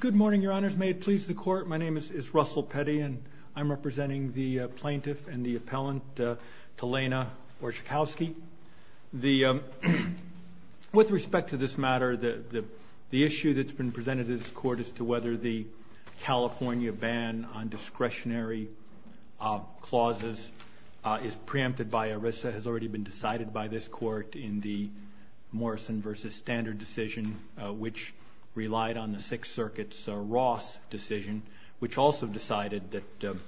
Good morning, Your Honors. May it please the Court, my name is Russell Petty and I'm representing the Plaintiff and the Appellant Talana Orzechowski. With respect to this matter, the issue that's been presented to this Court as to whether the California ban on discretionary clauses is preempted by ERISA has already been decided by this Court in the past, which relied on the Sixth Circuit's Ross decision, which also decided that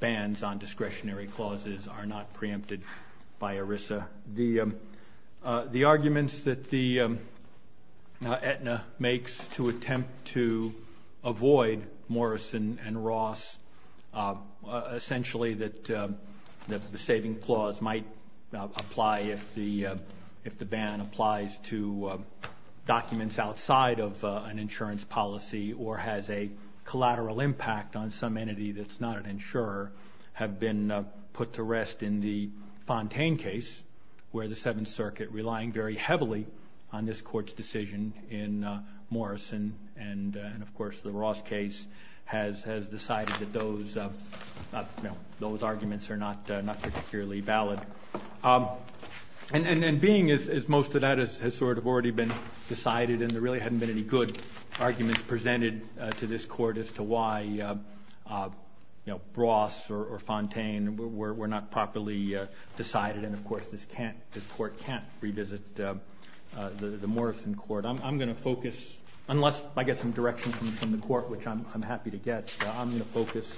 bans on discretionary clauses are not preempted by ERISA. The arguments that Aetna makes to attempt to avoid Morrison and Ross, essentially that the saving clause might apply if the ban applies to documents outside of an insurance policy or has a collateral impact on some entity that's not an insurer, have been put to rest in the Fontaine case, where the Seventh Circuit, relying very heavily on this Court's decision in Morrison and of course the Ross case, has decided that those arguments are not particularly valid. And being as most of that has sort of already been decided and there really hadn't been any good arguments presented to this Court as to why Ross or Fontaine were not properly decided and of course this Court can't revisit the Morrison Court. But I'm going to focus, unless I get some direction from the Court, which I'm happy to get, I'm going to focus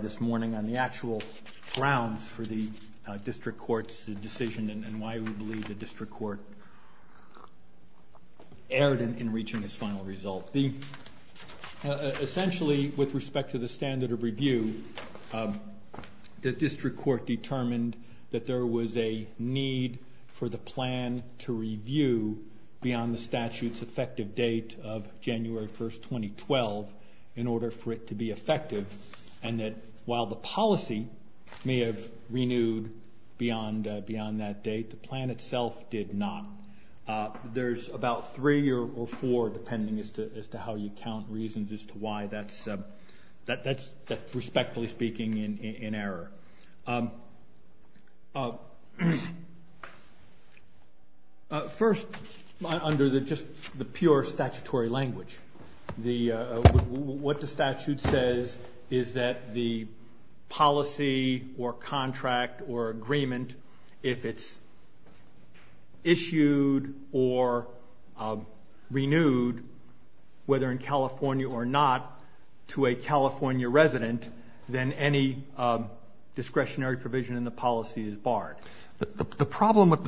this morning on the actual grounds for the District Court's decision and why we believe the District Court erred in reaching its final result. Essentially, with respect to the standard of review, the District Court determined that there was a need for the plan to review beyond the statute's effective date of January 1, 2012 in order for it to be effective and that while the policy may have renewed beyond that date, the plan itself did not. There's about three or four, depending as to how you count, reasons as to why that's, respectfully speaking, in error. First, under just the pure statutory language, what the statute says is that the policy or contract or agreement, if it's issued or renewed, whether in California or not, to a California resident, then any discretionary provision in the policy is barred. The problem with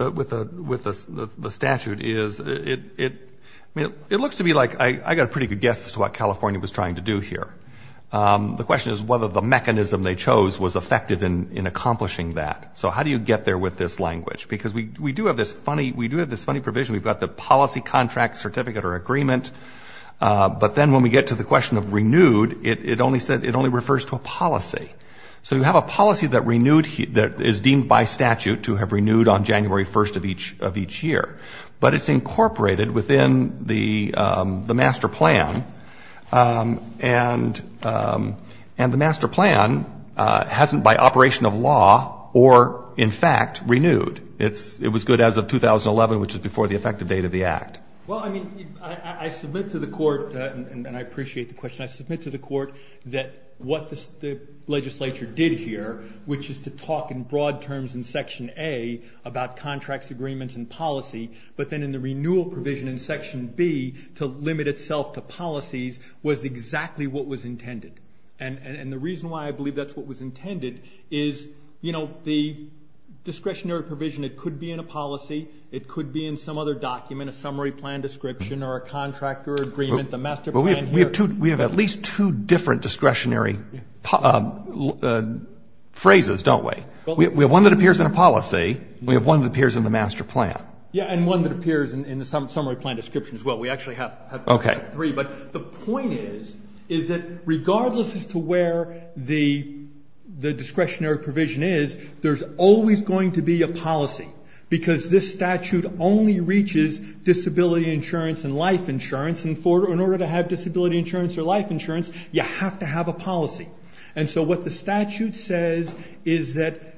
the statute is it looks to me like I got a pretty good guess as to what California was trying to do here. The question is whether the mechanism they chose was effective in accomplishing that. So how do you get there with this language? Because we do have this funny provision. We've got the policy, contract, certificate, or agreement, but then when we get to the question of renewed, it only refers to a policy. So you have a policy that is deemed by statute to have renewed on January 1 of each year, but it's incorporated within the master plan, and the master plan hasn't by operation of law or, in fact, renewed. It was good as of 2011, which is before the effective date of the Act. Well, I mean, I submit to the court, and I appreciate the question, I submit to the court that what the legislature did here, which is to talk in broad terms in Section A about contracts, agreements, and policy, but then in the renewal provision in Section B to limit itself to policies was exactly what was intended. And the reason why I believe that's what was intended is, you know, the discretionary provision, it could be in a policy, it could be in some other document, a summary plan description, or a contractor agreement, the master plan here. We have at least two different discretionary phrases, don't we? We have one that appears in a policy. We have one that appears in the master plan. Yeah, and one that appears in the summary plan description as well. We actually have three, but the point is, is that regardless as to where the discretionary provision is, there's always going to be a policy. Because this statute only reaches disability insurance and life insurance, and in order to have disability insurance or life insurance, you have to have a policy. And so what the statute says is that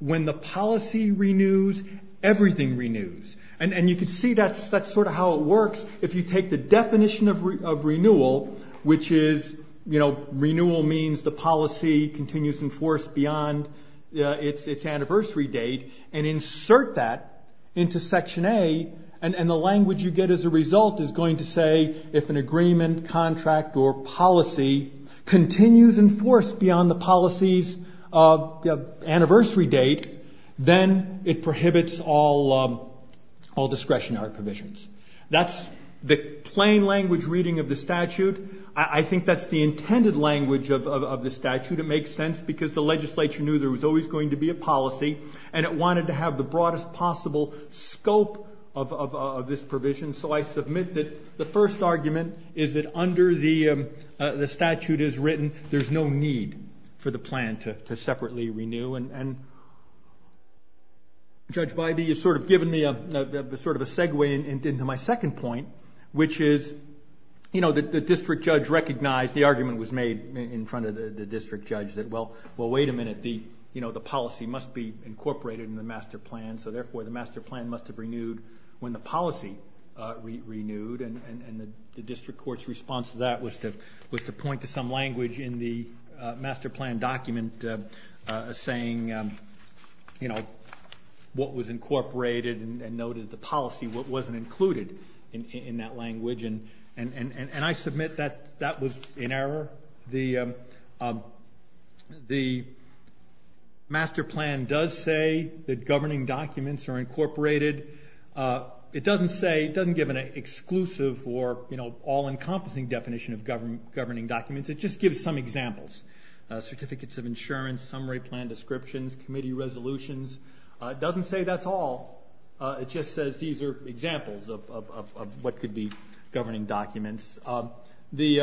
when the policy renews, everything renews. And you can see that's sort of how it works. If you take the definition of renewal, which is, you know, renewal means the policy continues in force beyond its anniversary date, and insert that into Section A and the language you get as a result is going to say if an agreement, contract, or policy continues in force beyond the policy's anniversary date, then it prohibits all discretionary provisions. That's the plain language reading of the statute. I think that's the intended language of the statute. It makes sense because the legislature knew there was always going to be a policy, and it wanted to have the broadest possible scope of this provision. So I submit that the first argument is that under the statute as written, there's no need for the plan to separately renew. And Judge Bybee has sort of given me sort of a segue into my second point, which is, you know, the district judge recognized, the argument was made in front of the district judge that, well, wait a minute, the policy must be incorporated in the master plan, so therefore the master plan must have renewed when the policy renewed. And the district court's response to that was to point to some language in the master plan document saying, you know, what was incorporated and noted the policy wasn't included in that language. And I submit that that was in error. The master plan does say that governing documents are incorporated. It doesn't say, it doesn't give an exclusive or, you know, all-encompassing definition of governing documents. It just gives some examples. Certificates of insurance, summary plan descriptions, committee resolutions. It doesn't say that's all. It just says these are examples of what could be governing documents. The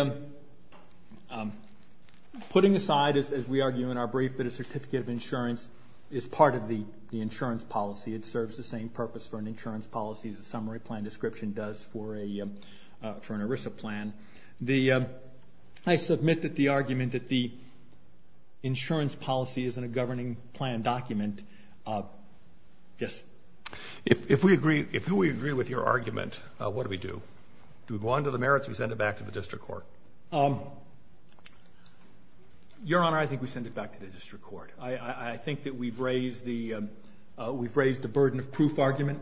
putting aside, as we argue in our brief, that a certificate of insurance is part of the insurance policy, it serves the same purpose for an insurance policy as a summary plan description does for an ERISA plan. I submit that the argument that the insurance policy isn't a governing plan document, yes. If we agree, if we agree with your argument, what do we do? Do we go on to the merits or do we send it back to the district court? Your Honor, I think we send it back to the district court. I think that we've raised the burden of proof argument.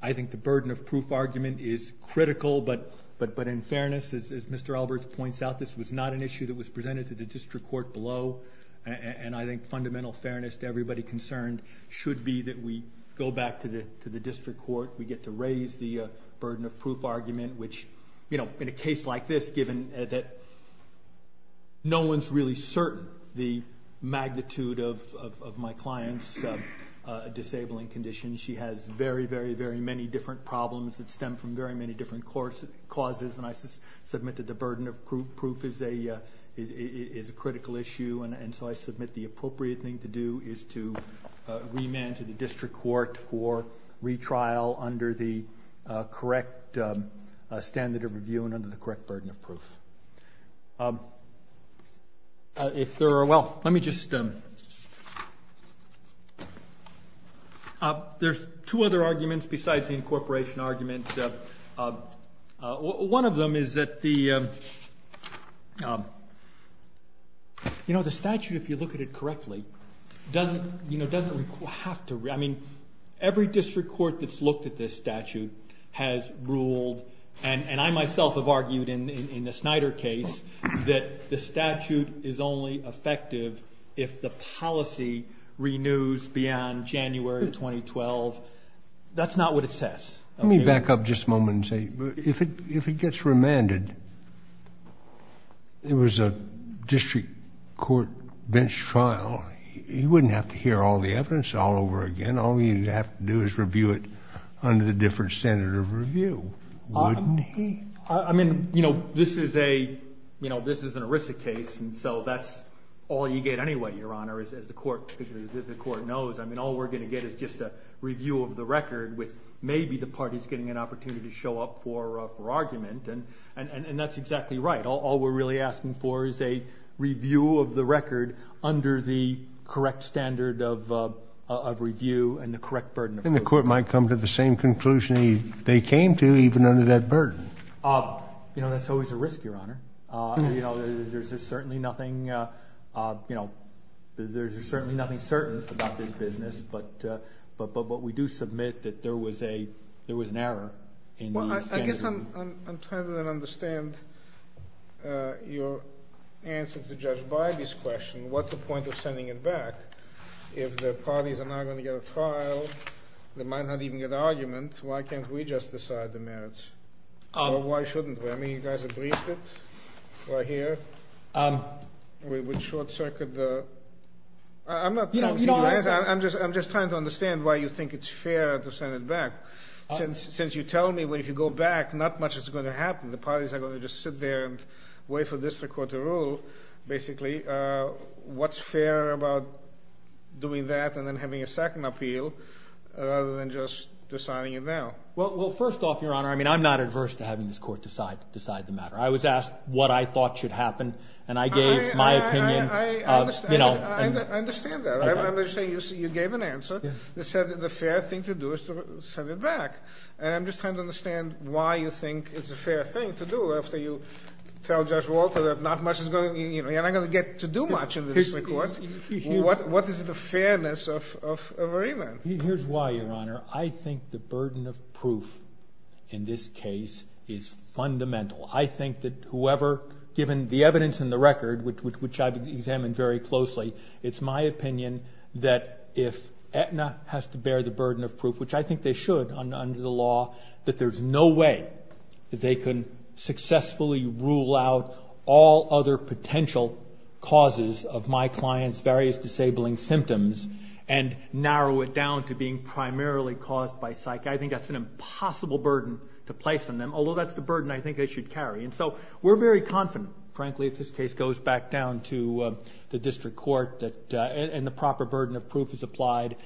I think the burden of proof argument is critical, but in fairness, as Mr. Alberts points out, this was not an issue that was presented to the district court below, and I think fundamental fairness to everybody concerned should be that we go back to the district court. We get to raise the burden of proof argument, which in a case like this, given that no one's really certain the magnitude of my client's disabling condition. She has very, very, very many different problems that stem from very many different causes, and I submit that the burden of proof is a critical issue, and so I submit the appropriate thing to do is to remand to the district court for retrial under the correct standard of review and under the correct burden of proof. If there are, well, let me just, there's two other arguments besides the incorporation argument. One of them is that the statute, if you look at it correctly, doesn't have to, I mean, every district court that's looked at this statute has ruled, and I myself have argued in the Snyder case, that the statute is only effective if the policy renews beyond January 2012. That's not what it says. Let me back up just a moment and say, if it gets remanded, it was a district court bench trial. He wouldn't have to hear all the evidence all over again. All he'd have to do is review it under the different standard of review, wouldn't he? I mean, you know, this is an ERISA case, and so that's all you get anyway, Your Honor, as the court knows. I mean, all we're going to get is just a review of the record with maybe the parties getting an opportunity to show up for argument, and that's exactly right. All we're really asking for is a review of the record under the correct standard of review and the correct burden of proof. Then the court might come to the same conclusion they came to, even under that burden. You know, that's always a risk, Your Honor. You know, there's certainly nothing, you know, there's certainly nothing certain about this business, but we do submit that there was an error in the standard of review. Well, I guess I'm trying to understand your answer to Judge Bybee's question. What's the point of sending it back if the parties are not going to get a trial? They might not even get an argument. Why can't we just decide the merits? Or why shouldn't we? I mean, you guys have briefed it. We're here. We would short-circuit the… I'm just trying to understand why you think it's fair to send it back, since you tell me that if you go back, not much is going to happen. The parties are going to just sit there and wait for this court to rule, basically. What's fair about doing that and then having a second appeal rather than just deciding it now? Well, first off, Your Honor, I mean, I'm not adverse to having this court decide the matter. I was asked what I thought should happen, and I gave my opinion. I understand that. I'm just saying you gave an answer that said the fair thing to do is to send it back, and I'm just trying to understand why you think it's a fair thing to do after you tell Judge Walter that not much is going to—you're not going to get to do much in this court. What is the fairness of a remand? Here's why, Your Honor. I think the burden of proof in this case is fundamental. I think that whoever, given the evidence in the record, which I've examined very closely, it's my opinion that if Aetna has to bear the burden of proof, which I think they should under the law, that there's no way that they can successfully rule out all other potential causes of my client's various disabling symptoms and narrow it down to being primarily caused by psych. I think that's an impossible burden to place on them, although that's the burden I think they should carry. And so we're very confident, frankly, if this case goes back down to the district court and the proper burden of proof is applied,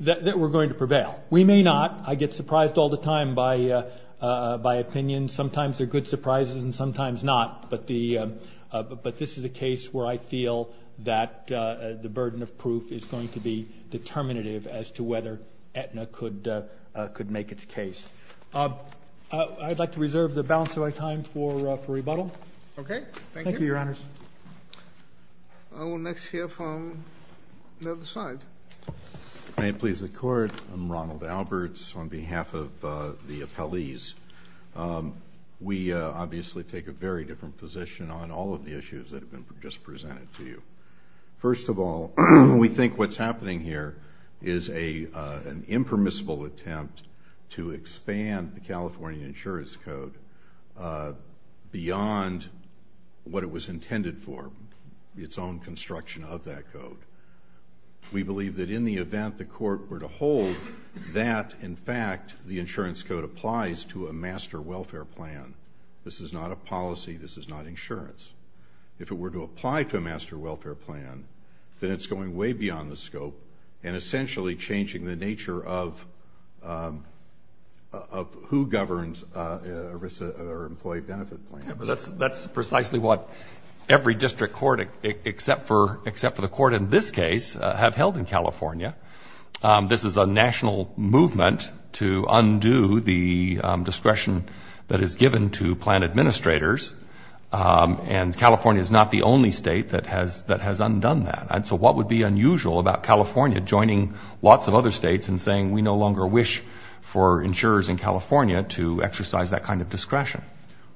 that we're going to prevail. We may not. I get surprised all the time by opinions. Sometimes they're good surprises and sometimes not. But this is a case where I feel that the burden of proof is going to be determinative as to whether Aetna could make its case. I'd like to reserve the balance of my time for rebuttal. Okay. Thank you. Thank you, Your Honors. We'll next hear from the other side. May it please the Court. I'm Ronald Alberts on behalf of the appellees. We obviously take a very different position on all of the issues that have been just presented to you. First of all, we think what's happening here is an impermissible attempt to expand the California Insurance Code beyond what it was intended for, its own construction of that code. We believe that in the event the court were to hold that, in fact, the insurance code applies to a master welfare plan. This is not a policy. This is not insurance. If it were to apply to a master welfare plan, then it's going way beyond the scope and essentially changing the nature of who governs our employee benefit plan. That's precisely what every district court except for the court in this case have held in California. This is a national movement to undo the discretion that is given to plan administrators. And California is not the only state that has undone that. So what would be unusual about California joining lots of other states and saying we no longer wish for insurers in California to exercise that kind of discretion?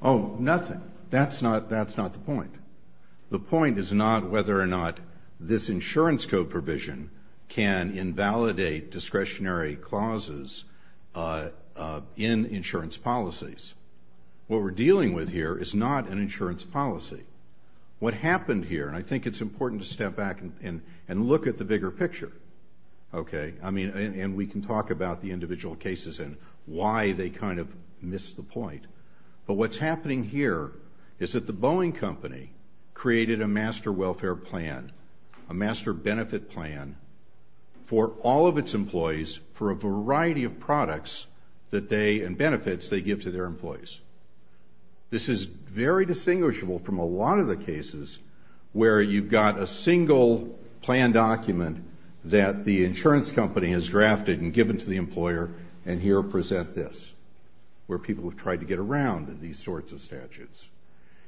Oh, nothing. That's not the point. The point is not whether or not this insurance code provision can invalidate discretionary clauses in insurance policies. What we're dealing with here is not an insurance policy. What happened here, and I think it's important to step back and look at the bigger picture, and we can talk about the individual cases and why they kind of missed the point, but what's happening here is that the Boeing company created a master welfare plan, a master benefit plan for all of its employees for a variety of products and benefits they give to their employees. This is very distinguishable from a lot of the cases where you've got a single plan document that the insurance company has drafted and given to the employer, and here present this, where people have tried to get around these sorts of statutes.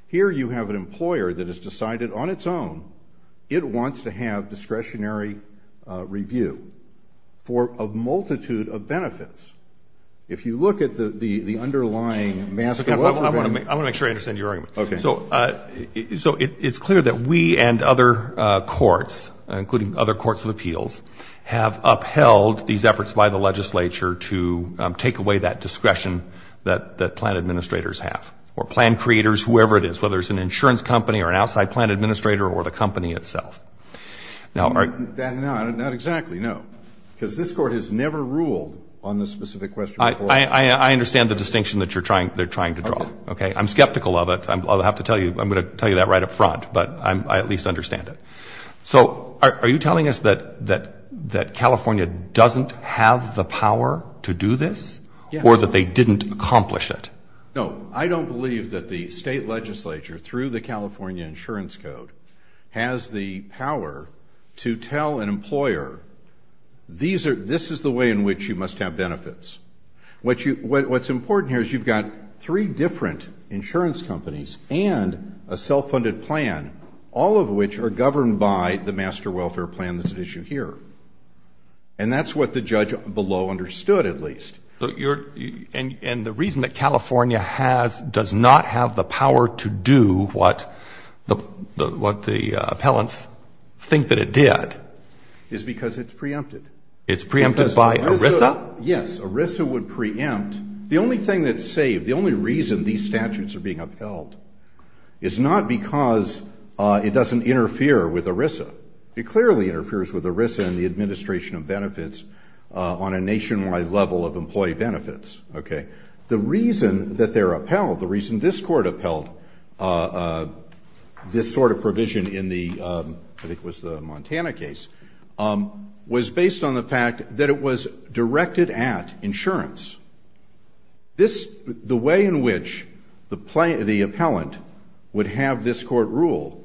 Here you have an employer that has decided on its own it wants to have discretionary review for a multitude of benefits. If you look at the underlying master welfare benefit. I want to make sure I understand your argument. Okay. So it's clear that we and other courts, including other courts of appeals, have upheld these efforts by the legislature to take away that discretion that plan administrators have, or plan creators, whoever it is, whether it's an insurance company or an outside plan administrator or the company itself. Not exactly, no, because this Court has never ruled on this specific question before. I understand the distinction that they're trying to draw. Okay. I'm skeptical of it. I'm going to tell you that right up front, but I at least understand it. So are you telling us that California doesn't have the power to do this or that they didn't accomplish it? No. I don't believe that the state legislature, through the California Insurance Code, has the power to tell an employer, this is the way in which you must have benefits. What's important here is you've got three different insurance companies and a self-funded plan, all of which are governed by the Master Welfare Plan that's at issue here. And that's what the judge below understood, at least. And the reason that California does not have the power to do what the appellants think that it did is because it's preempted. It's preempted by ERISA? Yes. ERISA would preempt. The only thing that's saved, the only reason these statutes are being upheld is not because it doesn't interfere with ERISA. It clearly interferes with ERISA and the administration of benefits on a nationwide level of employee benefits. Okay. The reason that they're upheld, the reason this Court upheld this sort of provision in the, I think it was the Montana case, was based on the fact that it was directed at insurance. The way in which the appellant would have this Court rule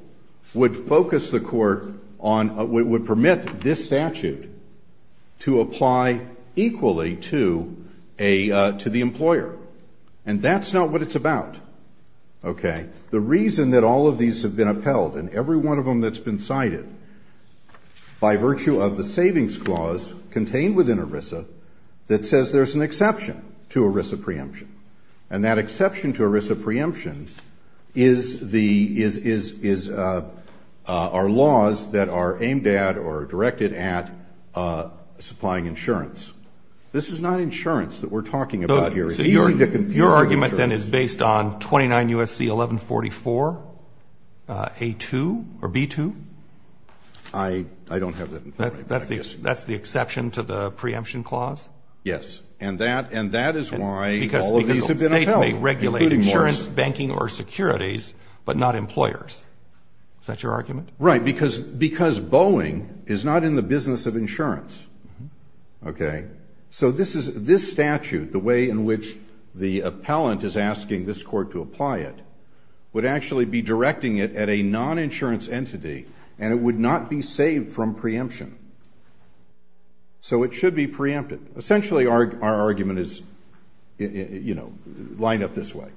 would focus the Court on, would permit this statute to apply equally to the employer. And that's not what it's about. Okay. And the reason that all of these have been upheld, and every one of them that's been cited, by virtue of the savings clause contained within ERISA that says there's an exception to ERISA preemption, and that exception to ERISA preemption is the, is our laws that are aimed at or directed at supplying insurance. This is not insurance that we're talking about here. It's easy to confuse it with insurance. This provision is based on 29 U.S.C. 1144, A2, or B2? I don't have that in front of me. That's the exception to the preemption clause? Yes. And that is why all of these have been upheld. Because states may regulate insurance, banking, or securities, but not employers. Is that your argument? Right. Because Boeing is not in the business of insurance. Okay. So this statute, the way in which the appellant is asking this court to apply it, would actually be directing it at a non-insurance entity, and it would not be saved from preemption. So it should be preempted. Essentially, our argument is, you know, lined up this way.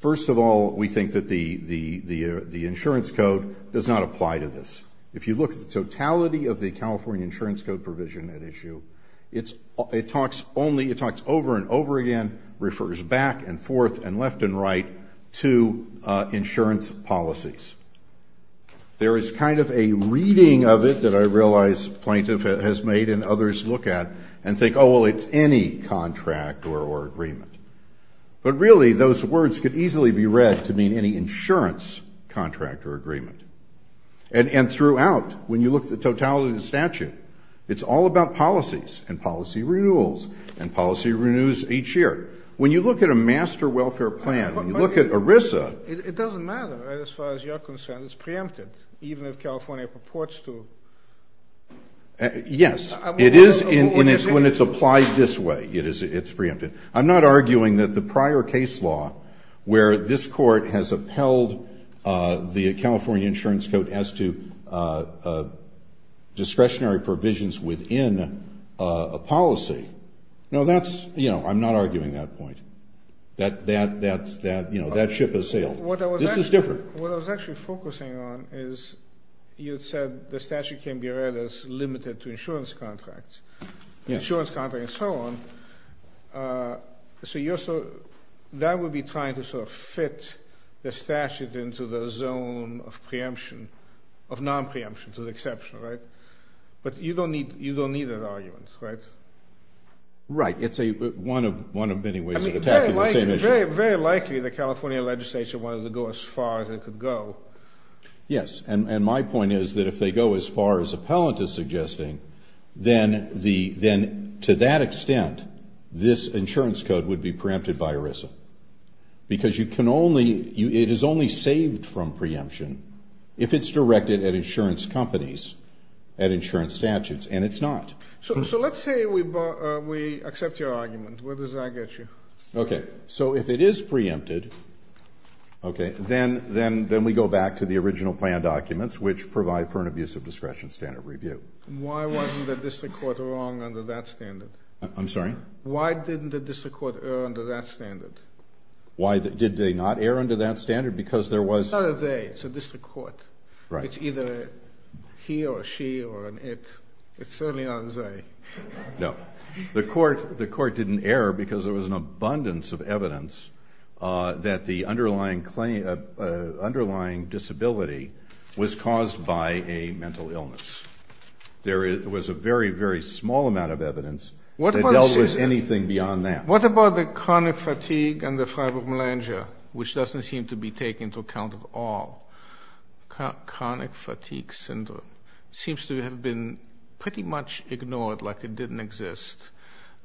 First of all, we think that the insurance code does not apply to this. If you look at the totality of the California insurance code provision at issue, it talks over and over again, refers back and forth and left and right to insurance policies. There is kind of a reading of it that I realize plaintiff has made and others look at and think, oh, well, it's any contract or agreement. But really, those words could easily be read to mean any insurance contract or agreement. And throughout, when you look at the totality of the statute, it's all about policies and policy renewals and policy renews each year. When you look at a master welfare plan, when you look at ERISA. It doesn't matter as far as you're concerned. It's preempted, even if California purports to. Yes. When it's applied this way, it's preempted. I'm not arguing that the prior case law where this court has upheld the California insurance code as to discretionary provisions within a policy. No, that's, you know, I'm not arguing that point. That, you know, that ship has sailed. This is different. What I was actually focusing on is you said the statute can be read as limited to insurance contracts. Yes. Insurance contract and so on. So that would be trying to sort of fit the statute into the zone of preemption, of non-preemption to the exception, right? But you don't need that argument, right? Right. It's one of many ways of attacking the same issue. I mean, very likely the California legislature wanted to go as far as it could go. Yes. And my point is that if they go as far as appellant is suggesting, then to that extent, this insurance code would be preempted by ERISA. Because you can only, it is only saved from preemption if it's directed at insurance companies, at insurance statutes, and it's not. So let's say we accept your argument. Where does that get you? Okay. So if it is preempted, okay, then we go back to the original plan documents, which provide for an abuse of discretion standard review. Why wasn't the district court wrong under that standard? I'm sorry? Why didn't the district court err under that standard? Why did they not err under that standard? Because there was Not a they. It's a district court. Right. It's either he or she or an it. It's certainly not a they. No. The court didn't err because there was an abundance of evidence that the underlying claim, underlying disability was caused by a mental illness. There was a very, very small amount of evidence that dealt with anything beyond that. What about the chronic fatigue and the fibromyalgia, which doesn't seem to be taken into account at all? Chronic fatigue syndrome seems to have been pretty much ignored like it didn't exist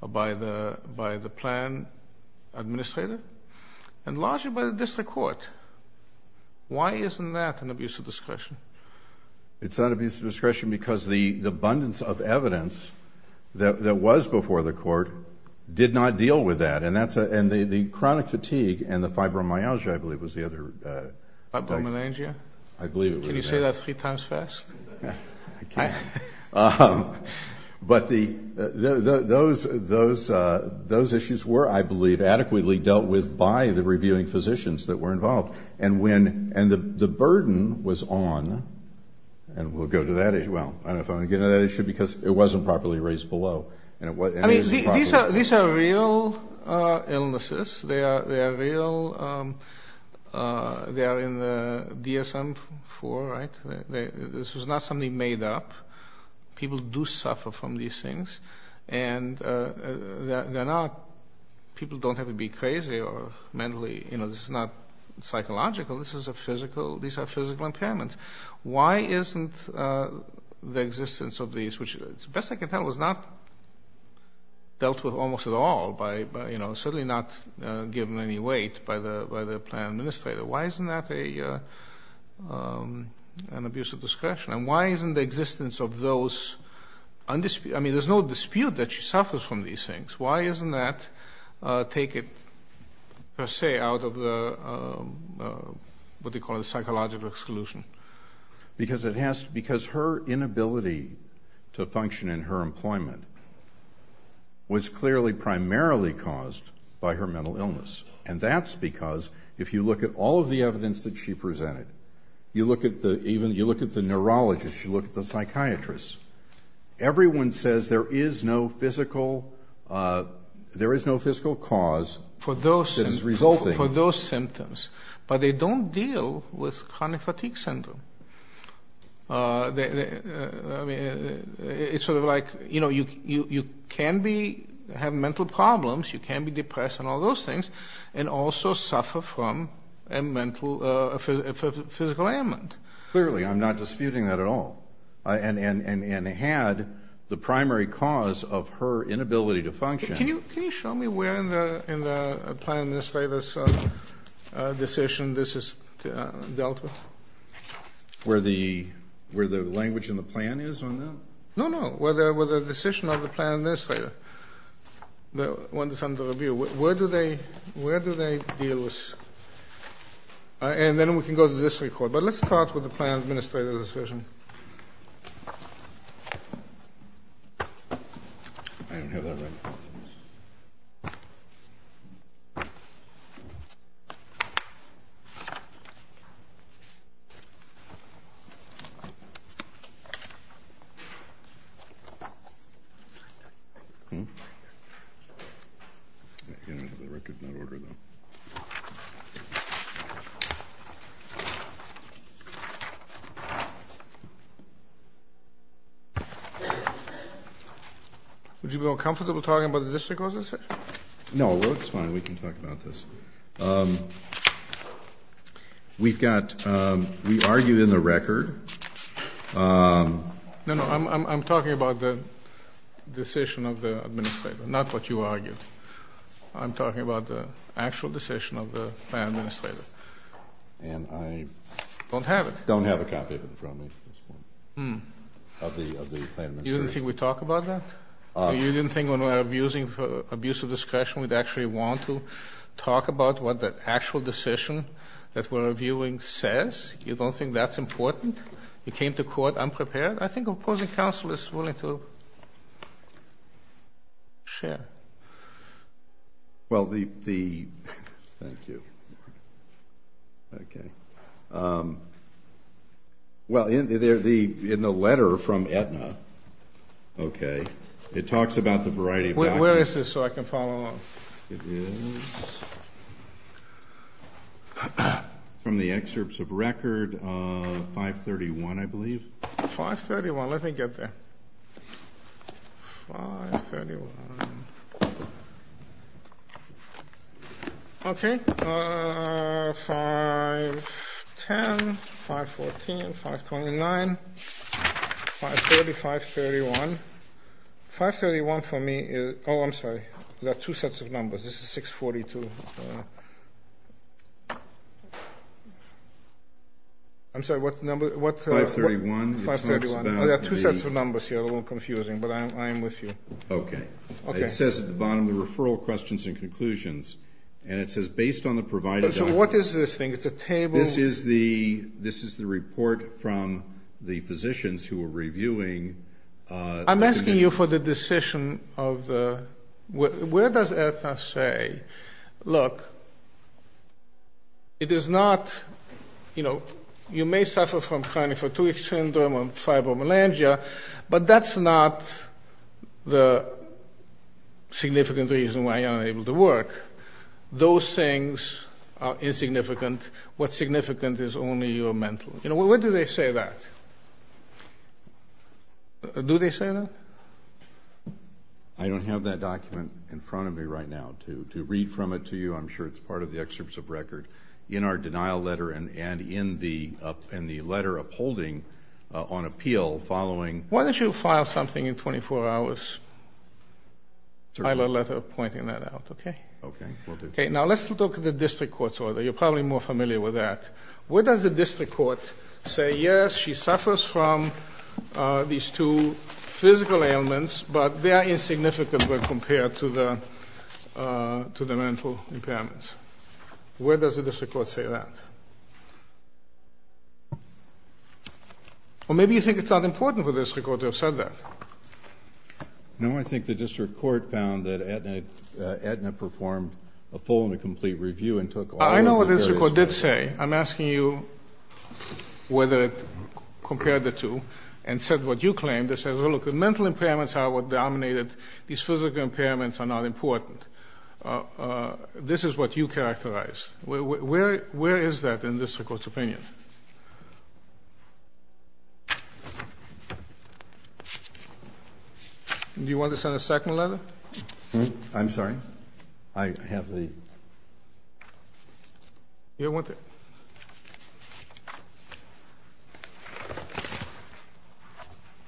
by the plan administrator and largely by the district court. Why isn't that an abuse of discretion? It's not abuse of discretion because the abundance of evidence that was before the court did not deal with that, and the chronic fatigue and the fibromyalgia, I believe, was the other. Fibromyalgia? I believe it was. Can you say that three times fast? I can't. But those issues were, I believe, adequately dealt with by the reviewing physicians that were involved, and the burden was on, and we'll go to that as well. I don't know if I want to get into that issue because it wasn't properly raised below. These are real illnesses. They are real. They are in the DSM-IV, right? This was not something made up. People do suffer from these things, and people don't have to be crazy or mentally. This is not psychological. These are physical impairments. Why isn't the existence of these, which, as best I can tell, was not dealt with almost at all by, you know, certainly not given any weight by the plan administrator. Why isn't that an abuse of discretion? And why isn't the existence of those undisputed? I mean, there's no dispute that she suffers from these things. Why doesn't that take it, per se, out of the, what do you call it, psychological exclusion? Because her inability to function in her employment was clearly primarily caused by her mental illness, and that's because if you look at all of the evidence that she presented, you look at the neurologist, you look at the psychiatrist, everyone says there is no physical cause that is resulting. For those symptoms. But they don't deal with chronic fatigue syndrome. It's sort of like, you know, you can have mental problems, you can be depressed and all those things, and also suffer from a physical ailment. Clearly, I'm not disputing that at all. And had the primary cause of her inability to function. Can you show me where in the plan administrator's decision this is dealt with? Where the language in the plan is on that? No, no. Where the decision of the plan administrator, the one that's under review, where do they deal with this? And then we can go to this report, but let's start with the plan administrator's decision. I don't have that record. I don't have that record. I did not order that. Would you be more comfortable talking about the district? No, it's fine. We can talk about this. We've got, we argue in the record. No, no, I'm talking about the decision of the administrator, not what you argued. I'm talking about the actual decision of the plan administrator. And I don't have it. Don't have a copy of it from me at this point, of the plan administrator. You didn't think we'd talk about that? You didn't think when we're abusing abuse of discretion we'd actually want to talk about what the actual decision that we're reviewing says? You don't think that's important? You came to court unprepared? I think opposing counsel is willing to share. Well, the, thank you. Okay. Well, in the letter from Aetna, okay, it talks about the variety of actions. Where is this so I can follow along? It is from the excerpts of record, 531, I believe. 531, let me get there. 531. Okay. 510, 514, 529, 530, 531. 531 for me is, oh, I'm sorry, there are two sets of numbers. This is 642. I'm sorry, what number? 531. 531. There are two sets of numbers here, a little confusing, but I am with you. Okay. It says at the bottom the referral questions and conclusions, and it says based on the provided document. So what is this thing? It's a table? This is the report from the physicians who are reviewing. I'm asking you for the decision of the, where does Aetna say, look, it is not, you know, you may suffer from chronic fatigue syndrome and fibromyalgia, but that's not the significant reason why you're unable to work. Those things are insignificant. What's significant is only your mental. You know, when do they say that? Do they say that? I don't have that document in front of me right now to read from it to you. I'm sure it's part of the excerpts of record in our denial letter and in the letter upholding on appeal following. Why don't you file something in 24 hours? File a letter pointing that out, okay? Okay, will do. Okay, now let's look at the district court's order. You're probably more familiar with that. Where does the district court say, yes, she suffers from these two physical ailments, but they are insignificant when compared to the mental impairments? Where does the district court say that? Or maybe you think it's not important for the district court to have said that. No, I think the district court found that Aetna performed a full and a complete review and took all of the various I know what the district court did say. I'm asking you whether it compared the two and said what you claimed. They said, well, look, the mental impairments are what dominated. These physical impairments are not important. This is what you characterized. Where is that in the district court's opinion? Do you want to send a second letter? I'm sorry. I have the ---- You want to?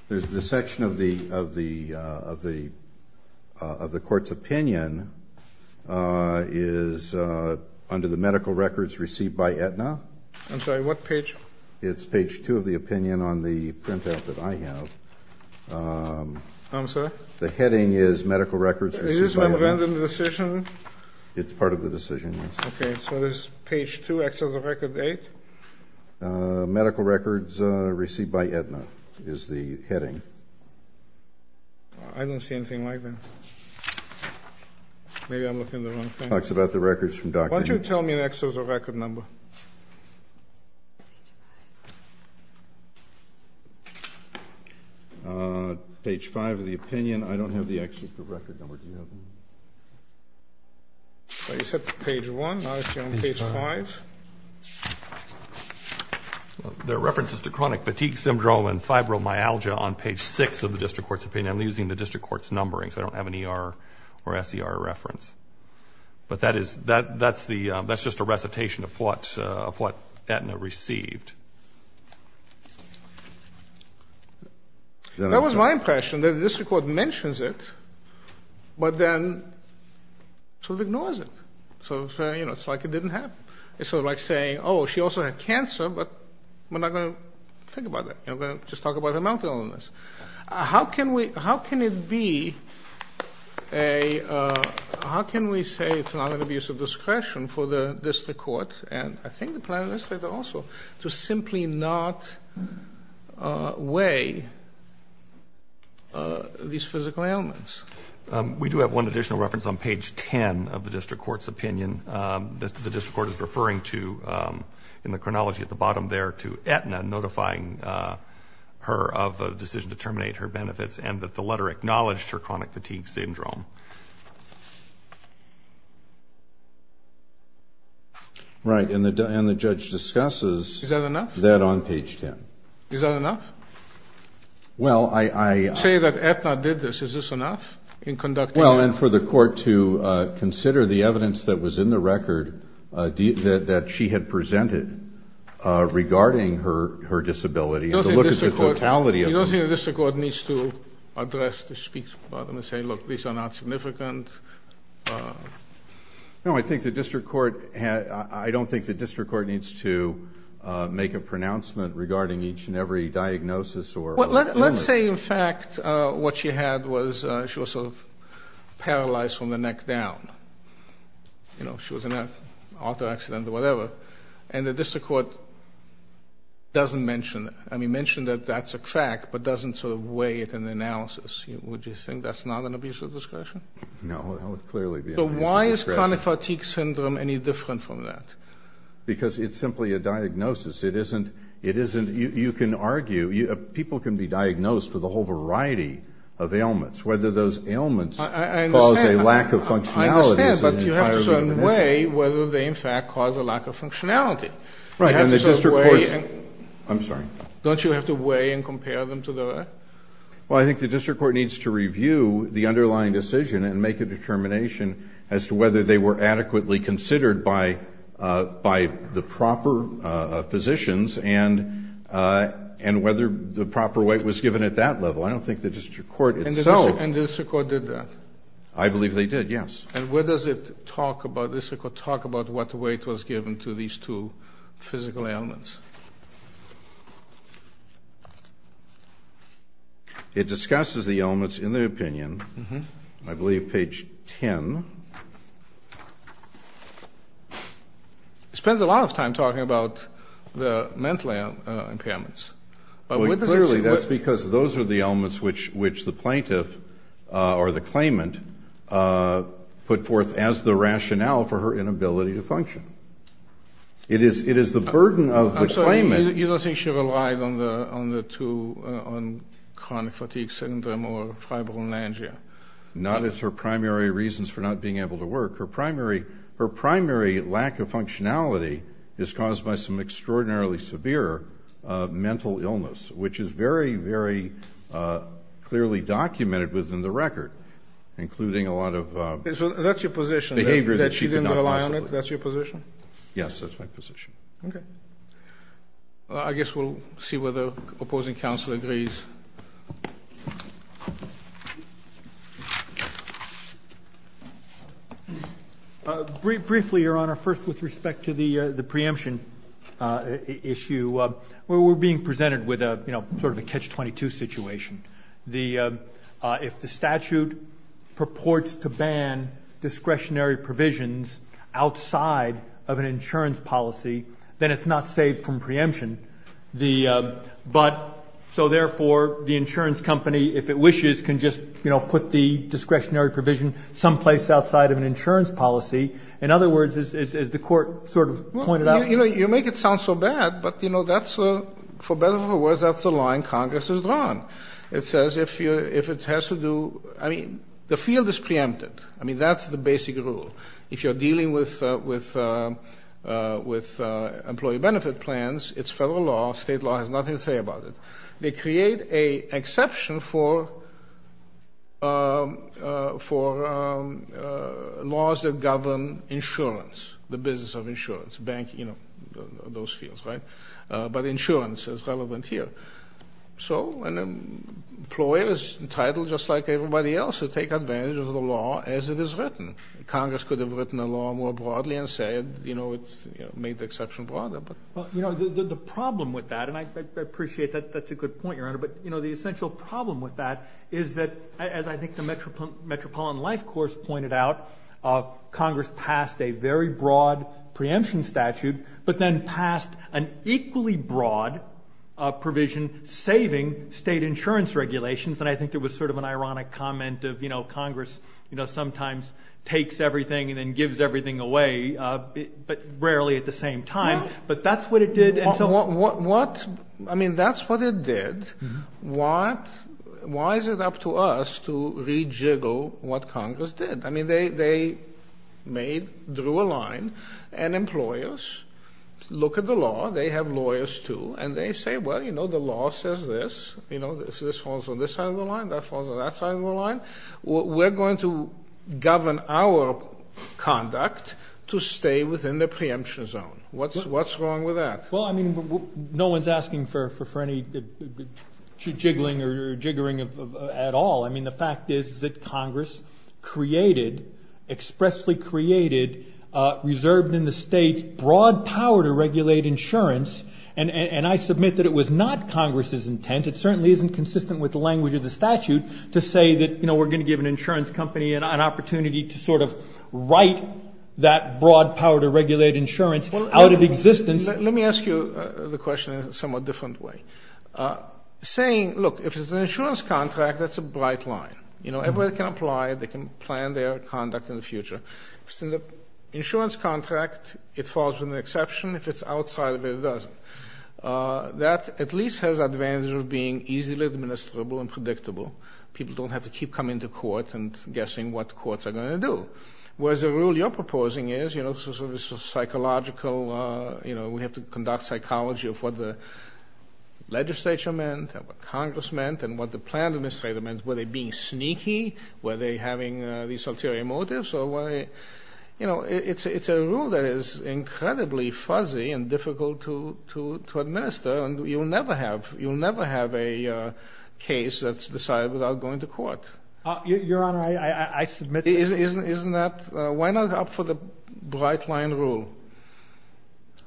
The section of the court's opinion is under the medical records received by Aetna. I'm sorry, what page? It's page two of the opinion on the printout that I have. I'm sorry? The heading is medical records received by Aetna. Is this relevant in the decision? It's part of the decision, yes. Okay. So this is page two, excess of record eight? Medical records received by Aetna is the heading. I don't see anything like that. Maybe I'm looking at the wrong thing. It talks about the records from Dr. ---- Why don't you tell me an excess of record number? Page five of the opinion, I don't have the excess of record number. Do you have it? You said page one. Now it's on page five. There are references to chronic fatigue syndrome and fibromyalgia on page six of the district court's opinion. I'm using the district court's numbering, so I don't have an ER or SER reference. But that is the ---- that's just a recitation of what Aetna received. That was my impression, that the district court mentions it. But then sort of ignores it. Sort of, you know, it's like it didn't happen. It's sort of like saying, oh, she also had cancer, but we're not going to think about that. We're going to just talk about her mouth illness. How can we be a ---- how can we say it's not an abuse of discretion for the district court to simply not weigh these physical ailments? We do have one additional reference on page 10 of the district court's opinion. The district court is referring to, in the chronology at the bottom there, to Aetna notifying her of a decision to terminate her benefits and that the letter acknowledged her chronic fatigue syndrome. Right. And the judge discusses that on page 10. Is that enough? Is that enough? Well, I ---- To say that Aetna did this, is this enough in conducting a ---- Well, and for the court to consider the evidence that was in the record that she had presented regarding her disability and to look at the totality of the ---- You don't think the district court needs to address the speech part and say, look, these are not significant? No, I think the district court had ---- I don't think the district court needs to make a pronouncement regarding each and every diagnosis or illness. Let's say, in fact, what she had was she was sort of paralyzed from the neck down. You know, she was in an auto accident or whatever, and the district court doesn't mention it. I mean, mention that that's a fact, but doesn't sort of weigh it in the analysis. Would you think that's not an abuse of discretion? No, that would clearly be an abuse of discretion. So why is chronic fatigue syndrome any different from that? Because it's simply a diagnosis. It isn't ---- you can argue, people can be diagnosed with a whole variety of ailments. Whether those ailments cause a lack of functionality is an entirely different issue. I understand, but you have to sort of weigh whether they, in fact, cause a lack of functionality. Right. And the district court's ---- I'm sorry. Don't you have to weigh and compare them to the rest? Well, I think the district court needs to review the underlying decision and make a determination as to whether they were adequately considered by the proper physicians and whether the proper weight was given at that level. I don't think the district court itself ---- And the district court did that? I believe they did, yes. And where does it talk about, the district court talk about what weight was given to these two physical ailments? It discusses the ailments in the opinion, I believe page 10. It spends a lot of time talking about the mental impairments. But where does it ---- as the rationale for her inability to function. It is the burden of the claimant ---- I'm sorry, you don't think she relied on the two, on chronic fatigue syndrome or fibromyalgia? Not as her primary reasons for not being able to work. Her primary lack of functionality is caused by some extraordinarily severe mental illness, which is very, very clearly documented within the record, including a lot of ---- So that's your position, that she didn't rely on it? Behavior that she could not possibly ---- That's your position? Yes, that's my position. Okay. I guess we'll see whether opposing counsel agrees. Briefly, Your Honor, first with respect to the preemption issue, we're being presented with sort of a catch-22 situation. If the statute purports to ban discretionary provisions outside of an insurance policy, then it's not safe from preemption. But so, therefore, the insurance company, if it wishes, can just put the discretionary provision someplace outside of an insurance policy. In other words, as the Court sort of pointed out ---- You make it sound so bad, but that's, for better or for worse, that's the line Congress has drawn. It says if it has to do ---- I mean, the field is preempted. I mean, that's the basic rule. If you're dealing with employee benefit plans, it's federal law. State law has nothing to say about it. They create an exception for laws that govern insurance, the business of insurance, banking, those fields. But insurance is relevant here. So an employer is entitled, just like everybody else, to take advantage of the law as it is written. Congress could have written a law more broadly and said, you know, it's made the exception broader, but ---- Well, you know, the problem with that, and I appreciate that that's a good point, Your Honor, but, you know, the essential problem with that is that, as I think the Metropolitan Life course pointed out, Congress passed a very broad preemption statute, but then passed an equally broad provision saving state insurance regulations. And I think there was sort of an ironic comment of, you know, Congress, you know, sometimes takes everything and then gives everything away, but rarely at the same time. But that's what it did. And so ---- What ---- I mean, that's what it did. Why is it up to us to rejiggle what Congress did? I mean, they made, drew a line, and employers look at the law. They have lawyers, too, and they say, well, you know, the law says this, you know, this falls on this side of the line, that falls on that side of the line. We're going to govern our conduct to stay within the preemption zone. What's wrong with that? Well, I mean, no one's asking for any jiggling or jiggering at all. I mean, the fact is that Congress created, expressly created, reserved in the states broad power to regulate insurance. And I submit that it was not Congress's intent. It certainly isn't consistent with the language of the statute to say that, you know, we're going to give an insurance company an opportunity to sort of write that broad power to regulate insurance out of existence. Let me ask you the question in a somewhat different way. Saying, look, if it's an insurance contract, that's a bright line. You know, everybody can apply, they can plan their conduct in the future. If it's an insurance contract, it falls with an exception. If it's outside of it, it doesn't. That at least has advantages of being easily administrable and predictable. People don't have to keep coming to court and guessing what courts are going to do. Whereas the rule you're proposing is, you know, this is psychological, you know, we have to conduct psychology of what the legislature meant and what Congress meant and what the plan administrator meant. Were they being sneaky? Were they having these ulterior motives? You know, it's a rule that is incredibly fuzzy and difficult to administer, and you'll never have a case that's decided without going to court. Your Honor, I submit that it is. Isn't that why not opt for the bright line rule?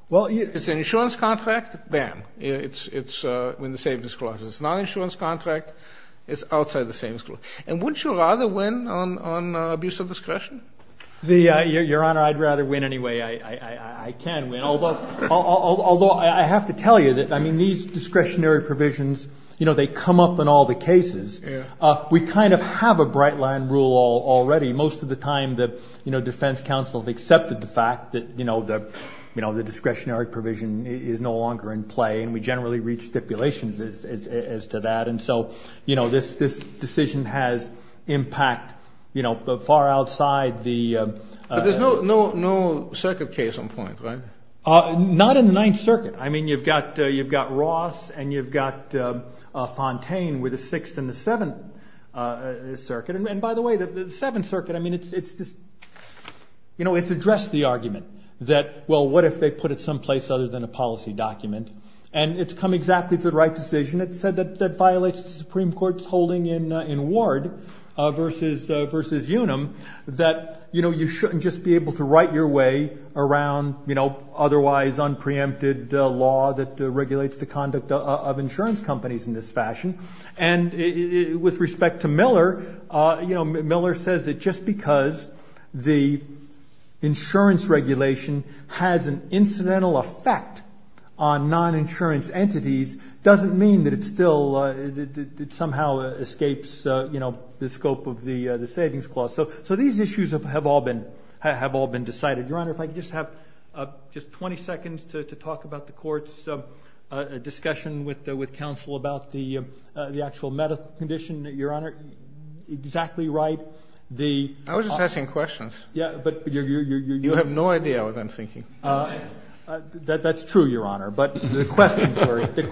Well, it's an insurance contract. Bam. It's in the same disclosure. It's not an insurance contract. It's outside the same disclosure. And wouldn't you rather win on abuse of discretion? Your Honor, I'd rather win anyway. I can win. Although I have to tell you that, I mean, these discretionary provisions, you know, they come up in all the cases. We kind of have a bright line rule already. Most of the time the defense counsel has accepted the fact that, you know, the discretionary provision is no longer in play, and we generally reach stipulations as to that. And so, you know, this decision has impact, you know, far outside the... But there's no circuit case on point, right? Not in the Ninth Circuit. I mean, you've got Ross and you've got Fontaine with the Sixth and the Seventh Circuit. And, by the way, the Seventh Circuit, I mean, it's just... You know, it's addressed the argument that, well, what if they put it someplace other than a policy document? And it's come exactly to the right decision. It said that that violates the Supreme Court's holding in Ward versus Unum, that, you know, you shouldn't just be able to write your way around, you know, otherwise unpreempted law that regulates the conduct of insurance companies in this fashion. And with respect to Miller, you know, Miller says that just because the insurance regulation has an incidental effect on non-insurance entities doesn't mean that it still somehow escapes, you know, the scope of the Savings Clause. So these issues have all been decided. Your Honor, if I could just have just 20 seconds to talk about the Court's discussion with the actual medical condition, Your Honor, exactly right. The... I was just asking questions. Yeah, but you're... You have no idea what I'm thinking. That's true, Your Honor. But the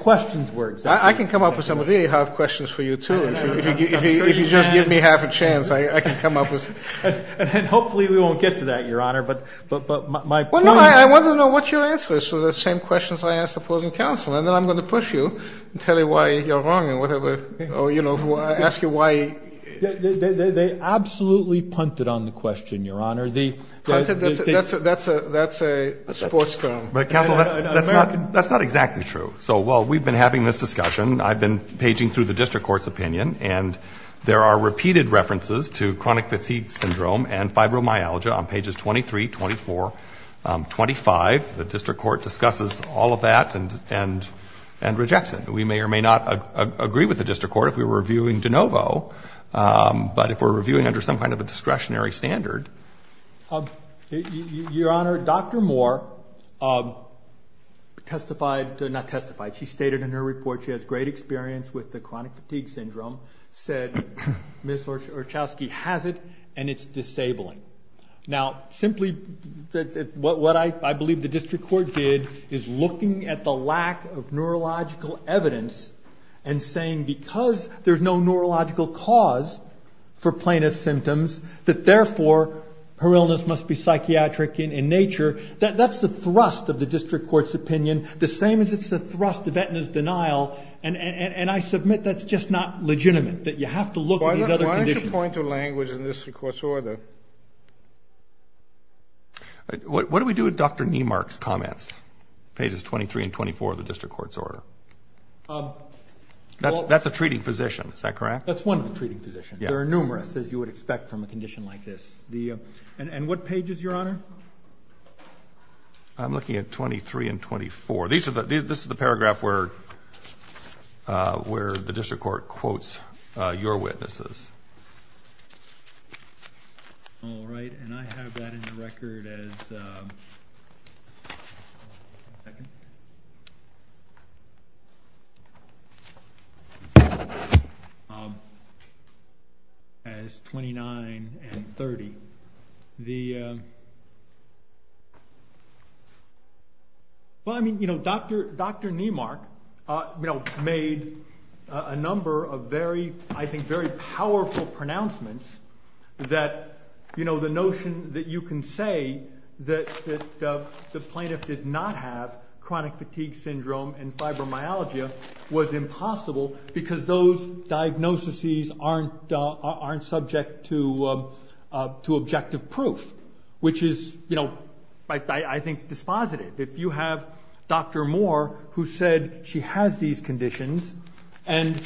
questions were exactly... I can come up with some really hard questions for you, too. If you just give me half a chance, I can come up with... And hopefully we won't get to that, Your Honor. But my point... Well, no, I want to know what your answer is to the same questions I asked opposing counsel, and then I'm going to push you and tell you why you're wrong and whatever. Or, you know, ask you why... They absolutely punted on the question, Your Honor. That's a sports term. But, counsel, that's not exactly true. So while we've been having this discussion, I've been paging through the district court's opinion, and there are repeated references to chronic fatigue syndrome and fibromyalgia on pages 23, 24, 25. The district court discusses all of that and rejects it. We may or may not agree with the district court if we were reviewing de novo, but if we're reviewing under some kind of a discretionary standard... Your Honor, Dr. Moore testified... Not testified... She stated in her report she has great experience with the chronic fatigue syndrome, said Ms. Orchowski has it, and it's disabling. Now, simply, what I believe the district court did is looking at the lack of neurological evidence and saying because there's no neurological cause for plaintiff's symptoms, that therefore her illness must be psychiatric in nature. That's the thrust of the district court's opinion, the same as it's the thrust of Aetna's denial, and I submit that's just not legitimate, that you have to look at these other conditions. What's the point of language in this court's order? What do we do with Dr. Niemark's comments, pages 23 and 24 of the district court's order? That's a treating physician, is that correct? That's one of the treating physicians. There are numerous, as you would expect from a condition like this. And what pages, Your Honor? I'm looking at 23 and 24. This is the paragraph where the district court quotes your witnesses. All right, and I have that in the record as 29 and 30. Well, I mean, Dr. Niemark made a number of very, I think, very powerful pronouncements that the notion that you can say that the plaintiff did not have chronic fatigue syndrome and fibromyalgia was impossible because those diagnoses aren't subject to objective proof, which is, I think, dispositive. If you have Dr. Moore who said she has these conditions and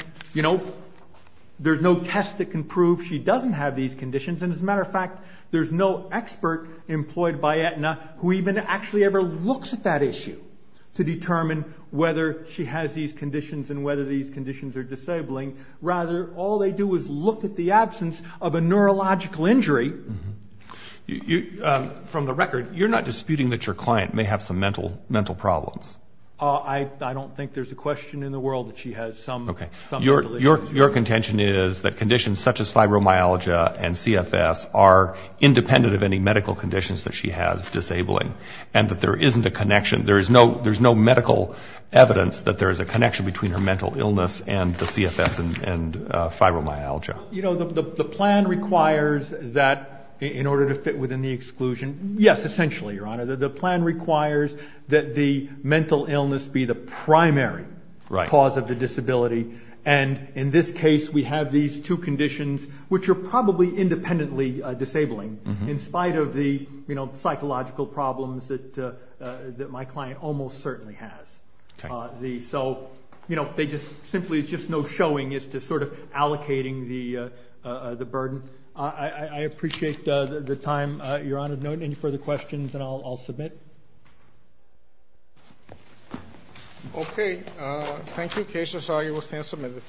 there's no test that can prove she doesn't have these conditions, and as a matter of fact, there's no expert employed by Aetna who even actually ever looks at that issue to determine whether she has these conditions and whether these conditions are disabling. Rather, all they do is look at the absence of a neurological injury. From the record, you're not disputing that your client may have some mental problems? I don't think there's a question in the world that she has some mental issues. Your contention is that conditions such as fibromyalgia and CFS are independent of any medical conditions that she has disabling and that there isn't a connection, there's no medical evidence that there is a connection between her mental illness and the CFS and fibromyalgia. You know, the plan requires that in order to fit within the exclusion, yes, essentially, Your Honor, the plan requires that the mental illness be the primary cause of the disability, and in this case we have these two conditions which are probably independently disabling in spite of the psychological problems that my client almost certainly has. So simply there's just no showing as to sort of allocating the burden. I appreciate the time, Your Honor. If there are no further questions, then I'll submit. Thank you. Okay. Thank you. The case is argued. We'll stand submitted.